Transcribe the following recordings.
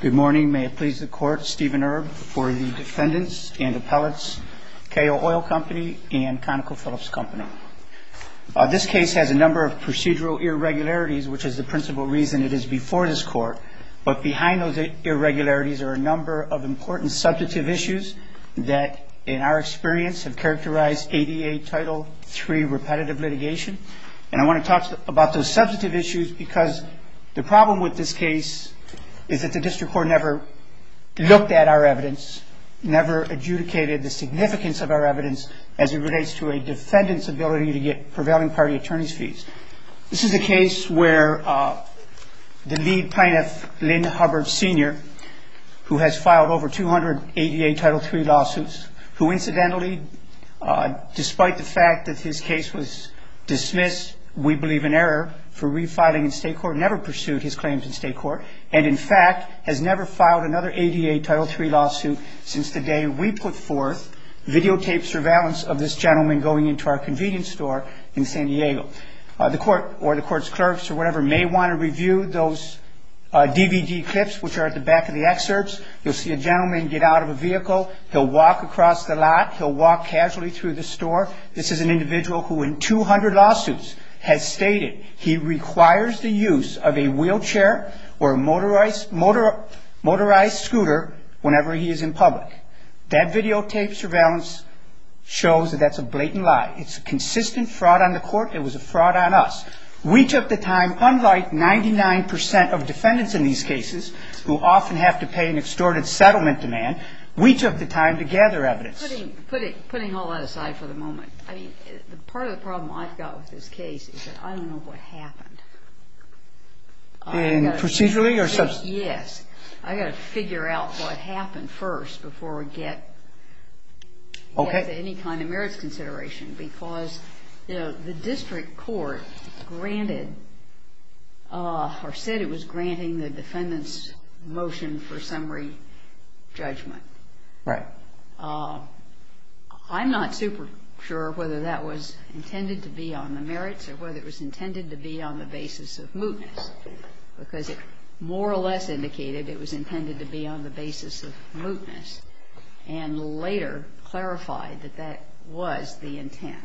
Good morning, may it please the court, Stephen Erb for the defendants and appellates, Kayo Oil Company and ConocoPhillips Company. This case has a number of procedural irregularities, which is the principal reason it is before this court, but behind those irregularities are a number of important substantive issues that, in our experience, have characterized ADA Title III repetitive litigation. And I want to talk about those substantive issues because the problem with this case is that the district court never looked at our evidence, never adjudicated the significance of our evidence as it relates to a defendant's ability to get prevailing party attorney's fees. This is a case where the lead plaintiff, Lynn Hubbard Sr., who has filed over 200 ADA Title III lawsuits, who incidentally, despite the fact that his case was dismissed, we believe in error, for refiling in state court, never pursued his claims in state court, and in fact has never filed another ADA Title III lawsuit since the day we put forth videotaped surveillance of this gentleman going into our convenience store in San Diego. The court or the court's clerks or whatever may want to review those DVD clips, which are at the back of the excerpts. You'll see a gentleman get out of a vehicle. He'll walk across the lot. He'll walk casually through the store. This is an individual who in 200 lawsuits has stated he requires the use of a wheelchair or a motorized scooter whenever he is in public. That videotaped surveillance shows that that's a blatant lie. It's a consistent fraud on the court. It was a fraud on us. We took the time, unlike 99% of defendants in these cases who often have to pay an extorted settlement demand, we took the time to gather evidence. Putting all that aside for the moment, I mean, part of the problem I've got with this case is that I don't know what happened. Procedurally or subsequently? Yes. I've got to figure out what happened first before we get to any kind of merits consideration because, you know, the district court granted or said it was granting the defendant's motion for summary judgment. Right. I'm not super sure whether that was intended to be on the merits or whether it was intended to be on the basis of mootness because it more or less indicated it was intended to be on the basis of mootness and later clarified that that was the intent.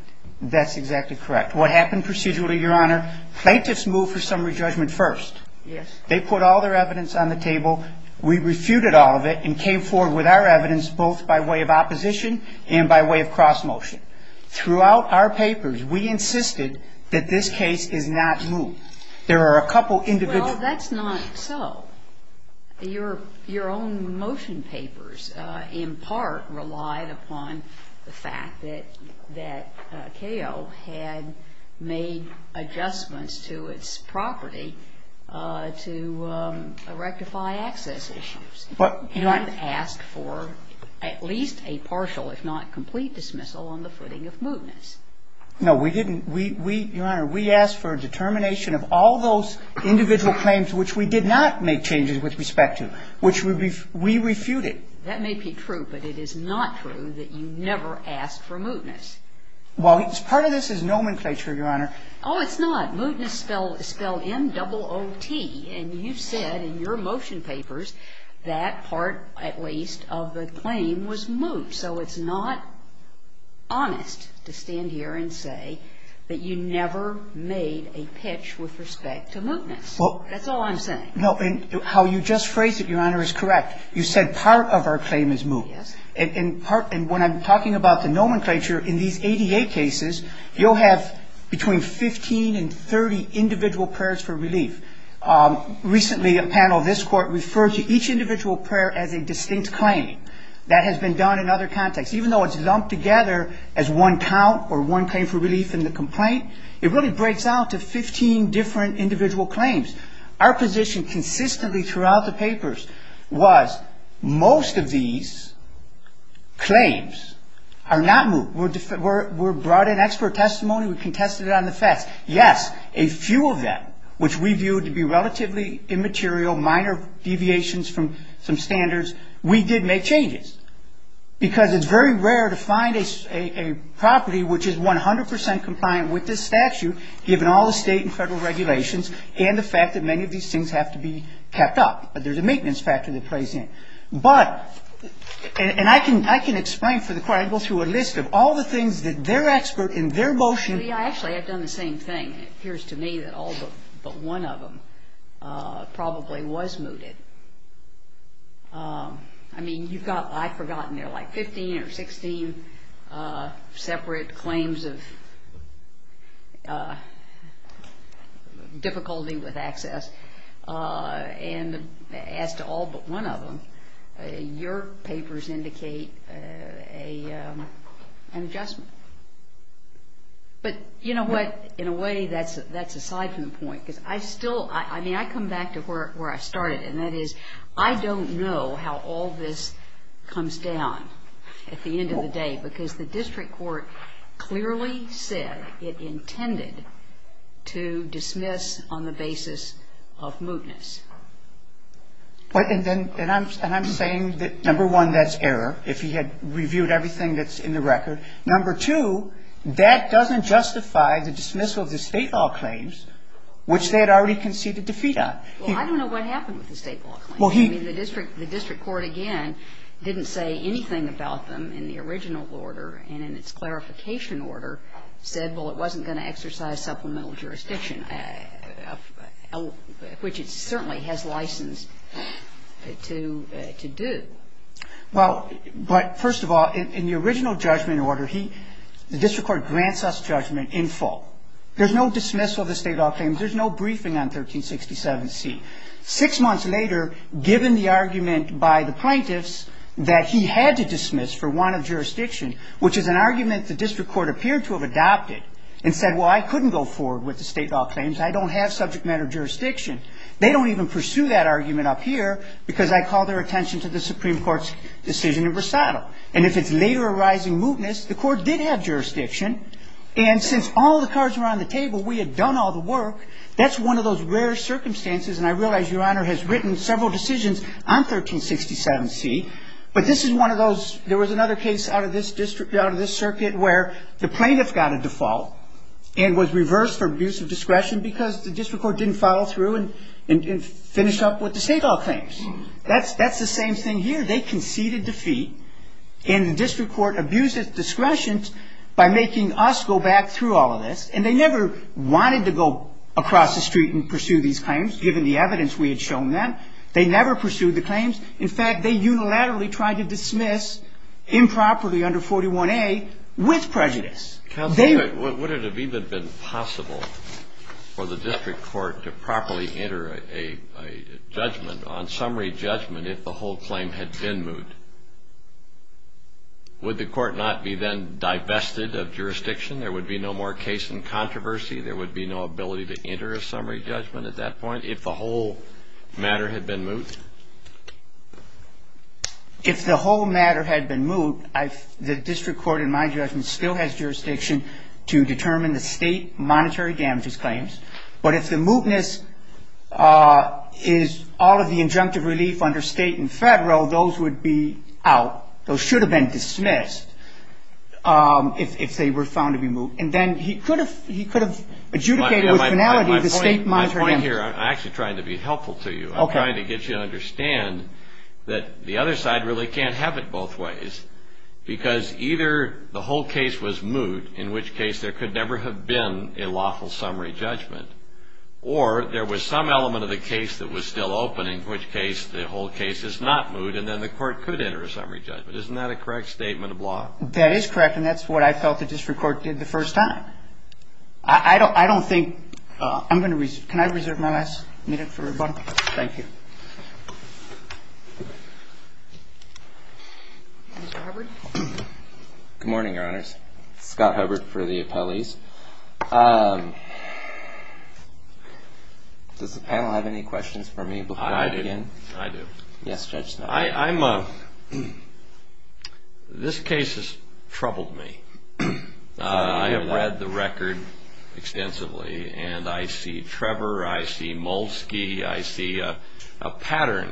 That's exactly correct. What happened procedurally, Your Honor? Plaintiffs moved for summary judgment first. Yes. They put all their evidence on the table. We refuted all of it and came forward with our evidence both by way of opposition and by way of cross-motion. Throughout our papers, we insisted that this case is not moot. There are a couple individual... Well, that's not so. Your own motion papers in part relied upon the fact that CAO had made adjustments to its property to rectify access issues and asked for at least a partial, if not complete, dismissal on the footing of mootness. No, we didn't. Your Honor, we asked for a determination of all those individual claims which we did not make changes with respect to, which we refuted. That may be true, but it is not true that you never asked for mootness. Well, part of this is nomenclature, Your Honor. Oh, it's not. Mootness is spelled M-double-O-T, and you said in your motion papers that part, at least, of the claim was moot. And so it's not honest to stand here and say that you never made a pitch with respect to mootness. That's all I'm saying. No. And how you just phrased it, Your Honor, is correct. You said part of our claim is moot. Yes. And when I'm talking about the nomenclature, in these ADA cases, you'll have between 15 and 30 individual prayers for relief. Recently, a panel of this Court referred to each individual prayer as a distinct claim. That has been done in other contexts. Even though it's lumped together as one count or one claim for relief in the complaint, it really breaks out to 15 different individual claims. Our position consistently throughout the papers was most of these claims are not moot. We're brought in expert testimony. We contested it on the facts. Yes, a few of them, which we viewed to be relatively immaterial, minor deviations from some standards, we did make changes, because it's very rare to find a property which is 100 percent compliant with this statute, given all the State and Federal regulations and the fact that many of these things have to be kept up. There's a maintenance factor that plays in. But, and I can explain for the Court. I can go through a list of all the things that they're expert in, their motion. Actually, I've done the same thing. And it appears to me that all but one of them probably was mooted. I mean, you've got, I've forgotten, there are like 15 or 16 separate claims of difficulty with access. And as to all but one of them, your papers indicate an adjustment. But, you know what, in a way, that's aside from the point. Because I still, I mean, I come back to where I started. And that is, I don't know how all this comes down at the end of the day. Because the district court clearly said it intended to dismiss on the basis of mootness. And I'm saying that, number one, that's error. If he had reviewed everything that's in the record. Number two, that doesn't justify the dismissal of the State law claims, which they had already conceded defeat on. Well, I don't know what happened with the State law claims. I mean, the district court, again, didn't say anything about them in the original order. And in its clarification order said, well, it wasn't going to exercise supplemental jurisdiction, which it certainly has license to do. Well, but first of all, in the original judgment order, the district court grants us judgment in full. There's no dismissal of the State law claims. There's no briefing on 1367C. Six months later, given the argument by the plaintiffs that he had to dismiss for want of jurisdiction, which is an argument the district court appeared to have adopted and said, well, I couldn't go forward with the State law claims. I don't have subject matter jurisdiction. They don't even pursue that argument up here because I call their attention to the Supreme Court's decision in Versado. And if it's later arising mootness, the court did have jurisdiction. And since all the cards were on the table, we had done all the work. That's one of those rare circumstances. And I realize, Your Honor, has written several decisions on 1367C. But this is one of those. There was another case out of this circuit where the plaintiff got a default and was reversed for abuse of discretion because the district court didn't follow through and finish up with the State law claims. That's the same thing here. They conceded defeat, and the district court abused its discretion by making us go back through all of this. And they never wanted to go across the street and pursue these claims, given the evidence we had shown them. They never pursued the claims. In fact, they unilaterally tried to dismiss improperly under 41A with prejudice. Kennedy. Counsel, would it have even been possible for the district court to properly enter a judgment, on summary judgment, if the whole claim had been moot? Would the court not be then divested of jurisdiction? There would be no more case in controversy. There would be no ability to enter a summary judgment at that point if the whole matter had been moot? If the whole matter had been moot, the district court, in my judgment, still has jurisdiction to determine the State monetary damages claims. But if the mootness is all of the injunctive relief under State and federal, those would be out. Those should have been dismissed if they were found to be moot. And then he could have adjudicated with finality the State monetary damages. My point here, I'm actually trying to be helpful to you. I'm trying to get you to understand that the other side really can't have it both ways, because either the whole case was moot, in which case there could never have been a lawful summary judgment, or there was some element of the case that was still open, in which case the whole case is not moot, and then the court could enter a summary judgment. Isn't that a correct statement of law? That is correct, and that's what I felt the district court did the first time. I don't think – I'm going to reserve – can I reserve my last minute for rebuttal? Thank you. Mr. Hubbard? Good morning, Your Honors. Scott Hubbard for the appellees. Does the panel have any questions for me before I begin? I do. Yes, Judge Snow. I'm – this case has troubled me. I have read the record extensively, and I see Trevor, I see Molsky, I see a pattern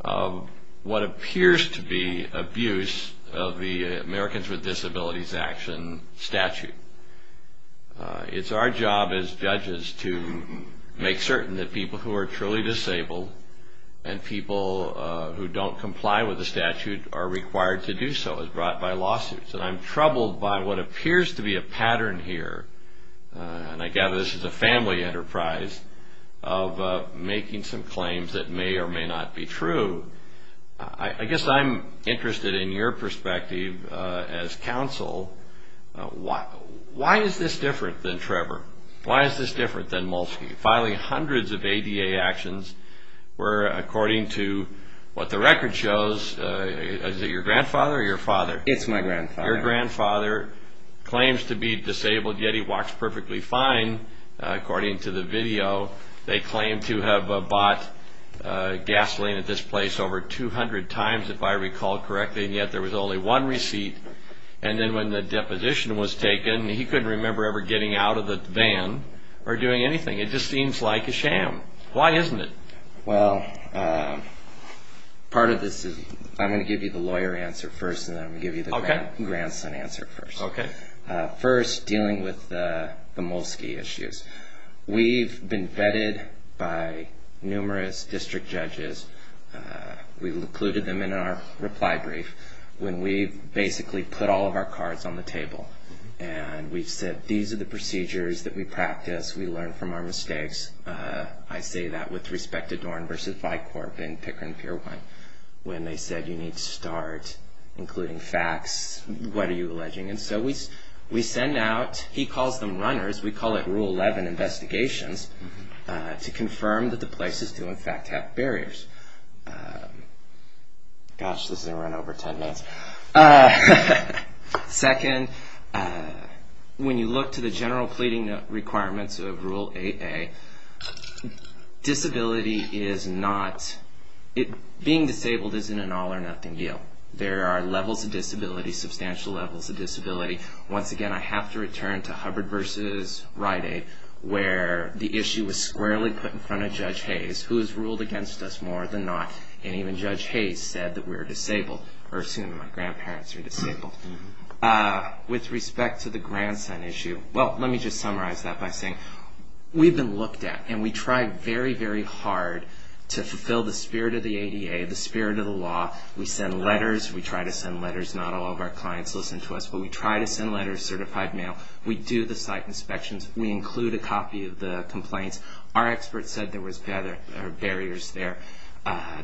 of what appears to be abuse of the Americans with Disabilities Action statute. It's our job as judges to make certain that people who are truly disabled and people who don't comply with the statute are required to do so as brought by lawsuits, and I'm troubled by what appears to be a pattern here, and I gather this is a family enterprise of making some claims that may or may not be true. I guess I'm interested in your perspective as counsel. Why is this different than Trevor? Why is this different than Molsky? Filing hundreds of ADA actions where, according to what the record shows – is it your grandfather or your father? It's my grandfather. Your grandfather claims to be disabled, yet he walks perfectly fine, according to the video. They claim to have bought gasoline at this place over 200 times, if I recall correctly, and yet there was only one receipt, and then when the deposition was taken, he couldn't remember ever getting out of the van or doing anything. It just seems like a sham. Why isn't it? Well, part of this is – I'm going to give you the lawyer answer first, and then I'm going to give you the grandson answer first. First, dealing with the Molsky issues. We've been vetted by numerous district judges. We've included them in our reply brief when we've basically put all of our cards on the table and we've said these are the procedures that we practice, we learn from our mistakes. I say that with respect to Dorn v. Vicorp and Pickering Pier 1, when they said you need to start including facts. What are you alleging? And so we send out – he calls them runners. We call it Rule 11 investigations to confirm that the places do in fact have barriers. Gosh, this is going to run over 10 minutes. Second, when you look to the general pleading requirements of Rule 8a, disability is not – being disabled isn't an all or nothing deal. There are levels of disability, substantial levels of disability. Once again, I have to return to Hubbard v. Rite Aid, where the issue was squarely put in front of Judge Hayes, who has ruled against us more than not, and even Judge Hayes said that we're disabled, or assuming my grandparents are disabled. With respect to the grandson issue, well, let me just summarize that by saying we've been looked at and we try very, very hard to fulfill the spirit of the ADA, the spirit of the law. We send letters. We try to send letters. Not all of our clients listen to us, but we try to send letters, certified mail. We do the site inspections. We include a copy of the complaints. Our experts said there were barriers there.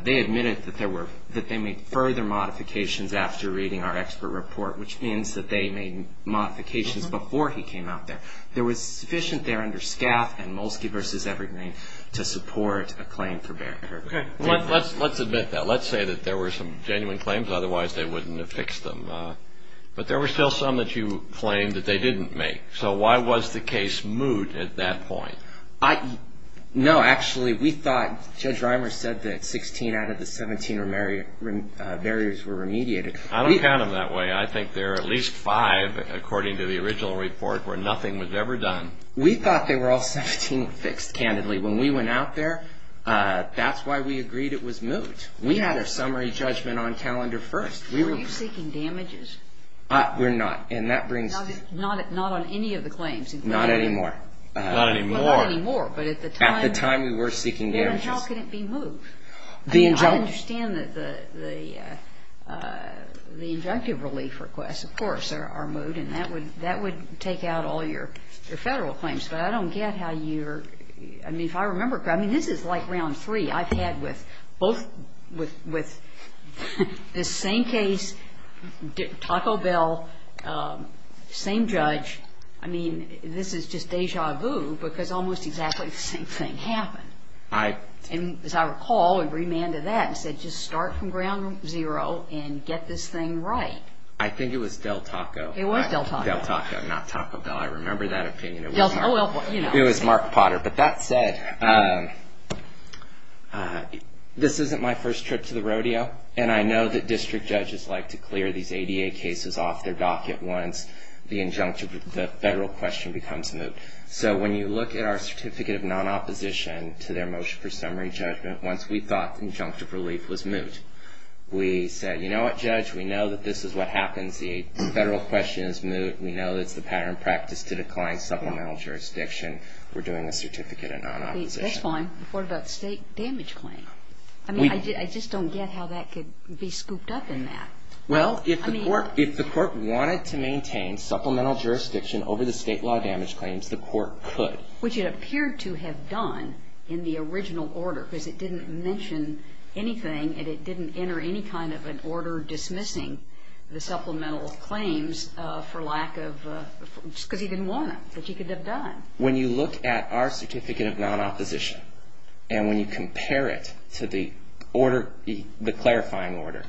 They admitted that they made further modifications after reading our expert report, which means that they made modifications before he came out there. There was sufficient there under SCAF and Molsky v. Evergreen to support a claim for barricade. Let's admit that. Let's say that there were some genuine claims. Otherwise, they wouldn't have fixed them. But there were still some that you claimed that they didn't make. So why was the case moot at that point? No, actually, we thought Judge Reimer said that 16 out of the 17 barriers were remediated. I don't count them that way. I think there are at least five, according to the original report, where nothing was ever done. We thought they were all 17 fixed, candidly. When we went out there, that's why we agreed it was moot. We had a summary judgment on calendar first. Were you seeking damages? We're not. Not on any of the claims? Not anymore. Not anymore. At the time we were seeking damages. Then how could it be moot? I understand that the injunctive relief requests, of course, are moot, and that would take out all your federal claims. But I don't get how you're – I mean, if I remember correctly, this is like round three. I've had with both – with this same case, Taco Bell, same judge. I mean, this is just deja vu because almost exactly the same thing happened. As I recall, we remanded that and said just start from ground zero and get this thing right. I think it was Del Taco. It was Del Taco. Del Taco, not Taco Bell. I remember that opinion. It was Mark Potter. But that said, this isn't my first trip to the rodeo, and I know that district judges like to clear these ADA cases off their dock at once. The injunctive – the federal question becomes moot. So when you look at our certificate of non-opposition to their motion for summary judgment, once we thought injunctive relief was moot, we said, you know what, Judge? We know that this is what happens. The federal question is moot. We know it's the pattern of practice to decline supplemental jurisdiction. We're doing a certificate of non-opposition. That's fine. What about state damage claim? I mean, I just don't get how that could be scooped up in that. Well, if the court wanted to maintain supplemental jurisdiction over the state law damage claims, the court could. Which it appeared to have done in the original order because it didn't mention anything and it didn't enter any kind of an order dismissing the supplemental claims for lack of – just because he didn't want to, but he could have done. When you look at our certificate of non-opposition and when you compare it to the order – the clarifying order,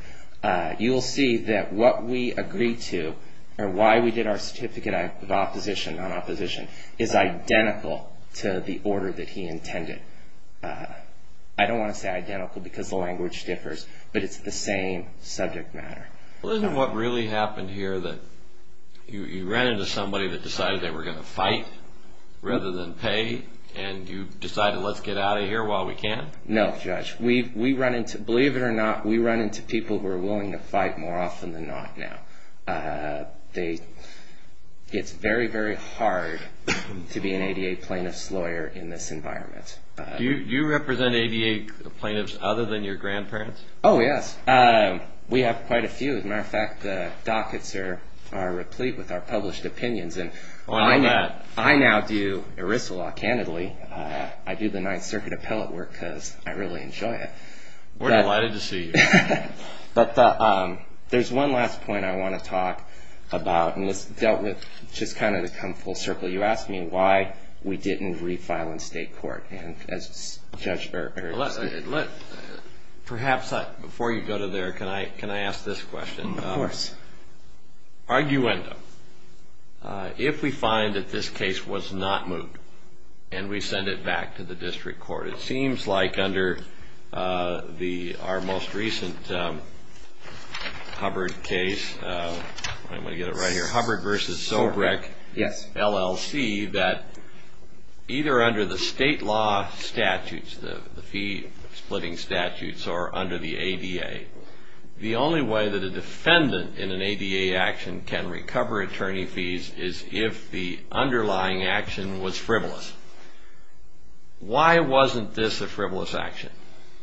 you'll see that what we agreed to or why we did our certificate of opposition, non-opposition, is identical to the order that he intended. I don't want to say identical because the language differs, but it's the same subject matter. Isn't what really happened here that you ran into somebody that decided they were going to fight rather than pay and you decided let's get out of here while we can? No, Judge. Believe it or not, we run into people who are willing to fight more often than not now. It's very, very hard to be an ADA plaintiff's lawyer in this environment. Do you represent ADA plaintiffs other than your grandparents? Oh, yes. We have quite a few. As a matter of fact, the dockets are replete with our published opinions. I know that. I now do ERISA law, candidly. I do the Ninth Circuit appellate work because I really enjoy it. We're delighted to see you. But there's one last point I want to talk about. And this dealt with just kind of to come full circle. You asked me why we didn't refile in state court. Perhaps before you go to there, can I ask this question? Of course. Arguendo. If we find that this case was not moved and we send it back to the district court, it seems like under our most recent Hubbard case, I'm going to get it right here, Hubbard v. Sobrek, LLC, that either under the state law statutes, the fee-splitting statutes, or under the ADA, the only way that a defendant in an ADA action can recover attorney fees is if the underlying action was frivolous. Why wasn't this a frivolous action?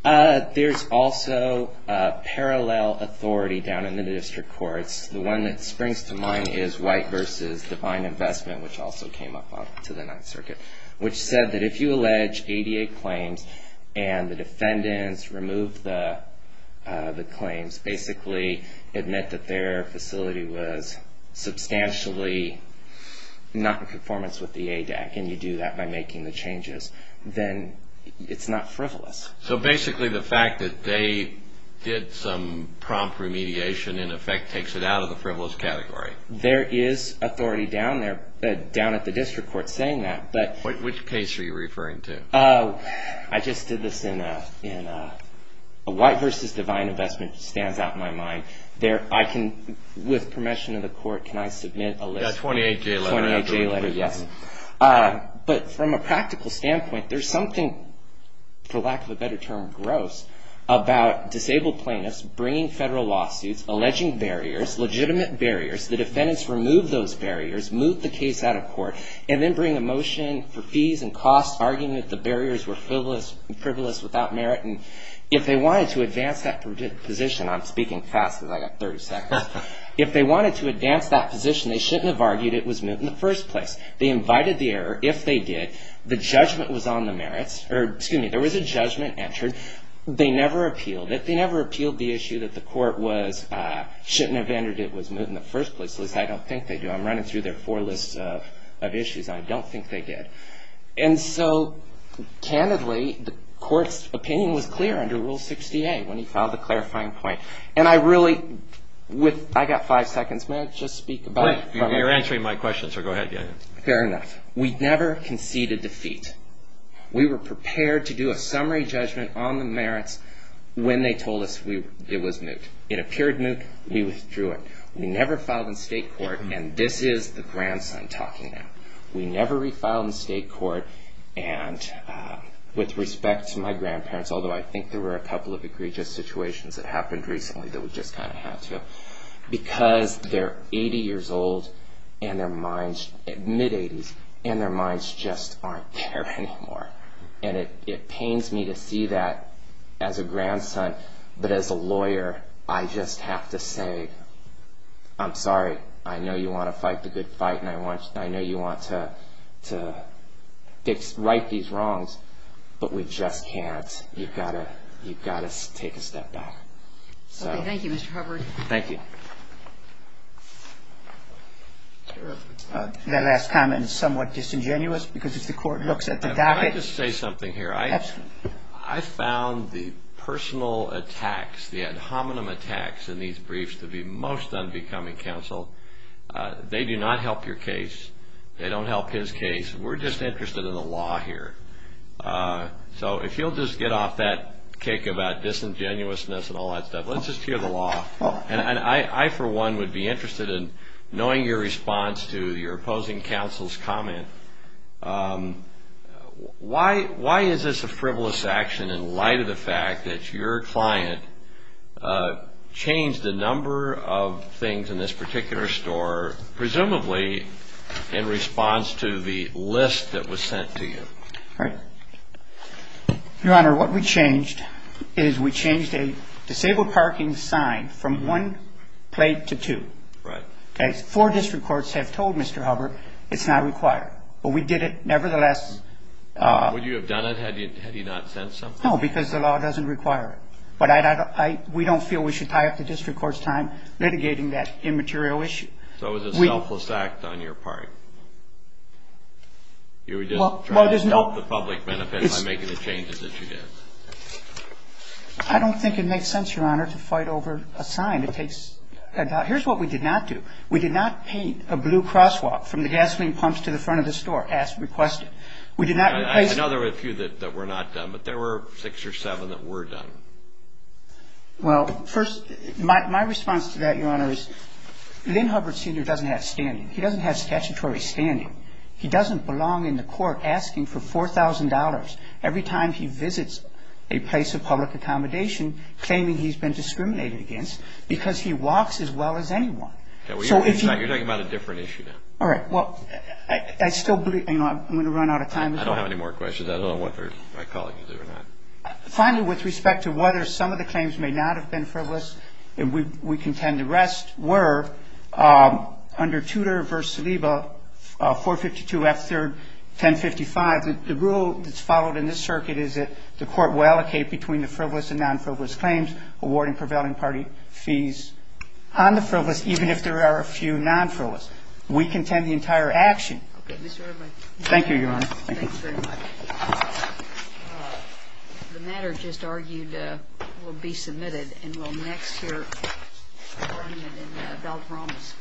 There's also parallel authority down in the district courts. The one that springs to mind is White v. Divine Investment, which also came up to the Ninth Circuit, which said that if you allege ADA claims and the defendants remove the claims, basically admit that their facility was substantially not in performance with the ADAC and you do that by making the changes, then it's not frivolous. So basically the fact that they did some prompt remediation in effect takes it out of the frivolous category. There is authority down at the district court saying that. Which case are you referring to? I just did this in White v. Divine Investment, stands out in my mind. With permission of the court, can I submit a list? That 28-J letter. 28-J letter, yes. But from a practical standpoint, there's something, for lack of a better term, gross, about disabled plaintiffs bringing federal lawsuits, alleging barriers, legitimate barriers. The defendants remove those barriers, move the case out of court, and then bring a motion for fees and costs, arguing that the barriers were frivolous without merit. And if they wanted to advance that position, I'm speaking fast because I've got 30 seconds. If they wanted to advance that position, they shouldn't have argued it was moot in the first place. They invited the error. If they did, the judgment was on the merits. Excuse me, there was a judgment entered. They never appealed it. If they argued that the court shouldn't have entered it was moot in the first place, at least I don't think they do. I'm running through their four lists of issues. I don't think they did. And so, candidly, the court's opinion was clear under Rule 68 when he filed the clarifying point. And I really, I've got five seconds. May I just speak about it? You're answering my question, so go ahead. Fair enough. We never conceded defeat. We were prepared to do a summary judgment on the merits when they told us it was moot. It appeared moot. We withdrew it. We never filed in state court, and this is the grandson talking now. We never refiled in state court, and with respect to my grandparents, although I think there were a couple of egregious situations that happened recently that we just kind of had to, because they're 80 years old and their minds, mid-80s, and their minds just aren't there anymore. And it pains me to see that as a grandson, but as a lawyer, I just have to say, I'm sorry, I know you want to fight the good fight, and I know you want to right these wrongs, but we just can't. You've got to take a step back. Thank you, Mr. Hubbard. Thank you. That last comment is somewhat disingenuous, because if the court looks at the docket. Can I just say something here? Absolutely. I found the personal attacks, the ad hominem attacks in these briefs to be most unbecoming, counsel. They do not help your case. They don't help his case. We're just interested in the law here. So if you'll just get off that kick about disingenuousness and all that stuff, let's just hear the law. And I, for one, would be interested in knowing your response to your opposing counsel's comment. Why is this a frivolous action in light of the fact that your client changed a number of things in this particular store, presumably in response to the list that was sent to you? Right. Your Honor, what we changed is we changed a disabled parking sign from one plate to two. Right. Four district courts have told Mr. Hubbard it's not required, but we did it nevertheless. Would you have done it had he not sent something? No, because the law doesn't require it. But we don't feel we should tie up the district court's time litigating that immaterial issue. So it was a selfless act on your part? You were just trying to help the public benefit by making the changes that you did? I don't think it makes sense, Your Honor, to fight over a sign. It takes a doubt. Here's what we did not do. We did not paint a blue crosswalk from the gasoline pumps to the front of the store as requested. We did not replace it. I know there were a few that were not done, but there were six or seven that were done. Well, first, my response to that, Your Honor, is Lynn Hubbard Sr. doesn't have standing. He doesn't have statutory standing. He doesn't belong in the court asking for $4,000 every time he visits a place of public accommodation claiming he's been discriminated against because he walks as well as anyone. You're talking about a different issue now. All right. Well, I still believe you know I'm going to run out of time. I don't have any more questions. I don't know what my colleagues are doing. Finally, with respect to whether some of the claims may not have been frivolous, we contend the rest were under Tudor v. Saliba, 452 F. 3rd, 1055. The rule that's followed in this circuit is that the court will allocate between the frivolous and non-frivolous claims, awarding prevailing party fees on the frivolous, even if there are a few non-frivolous. We contend the entire action. Thank you, Your Honor. Thanks very much. The matter just argued will be submitted and will next hear from you in the bell promise. Thank you.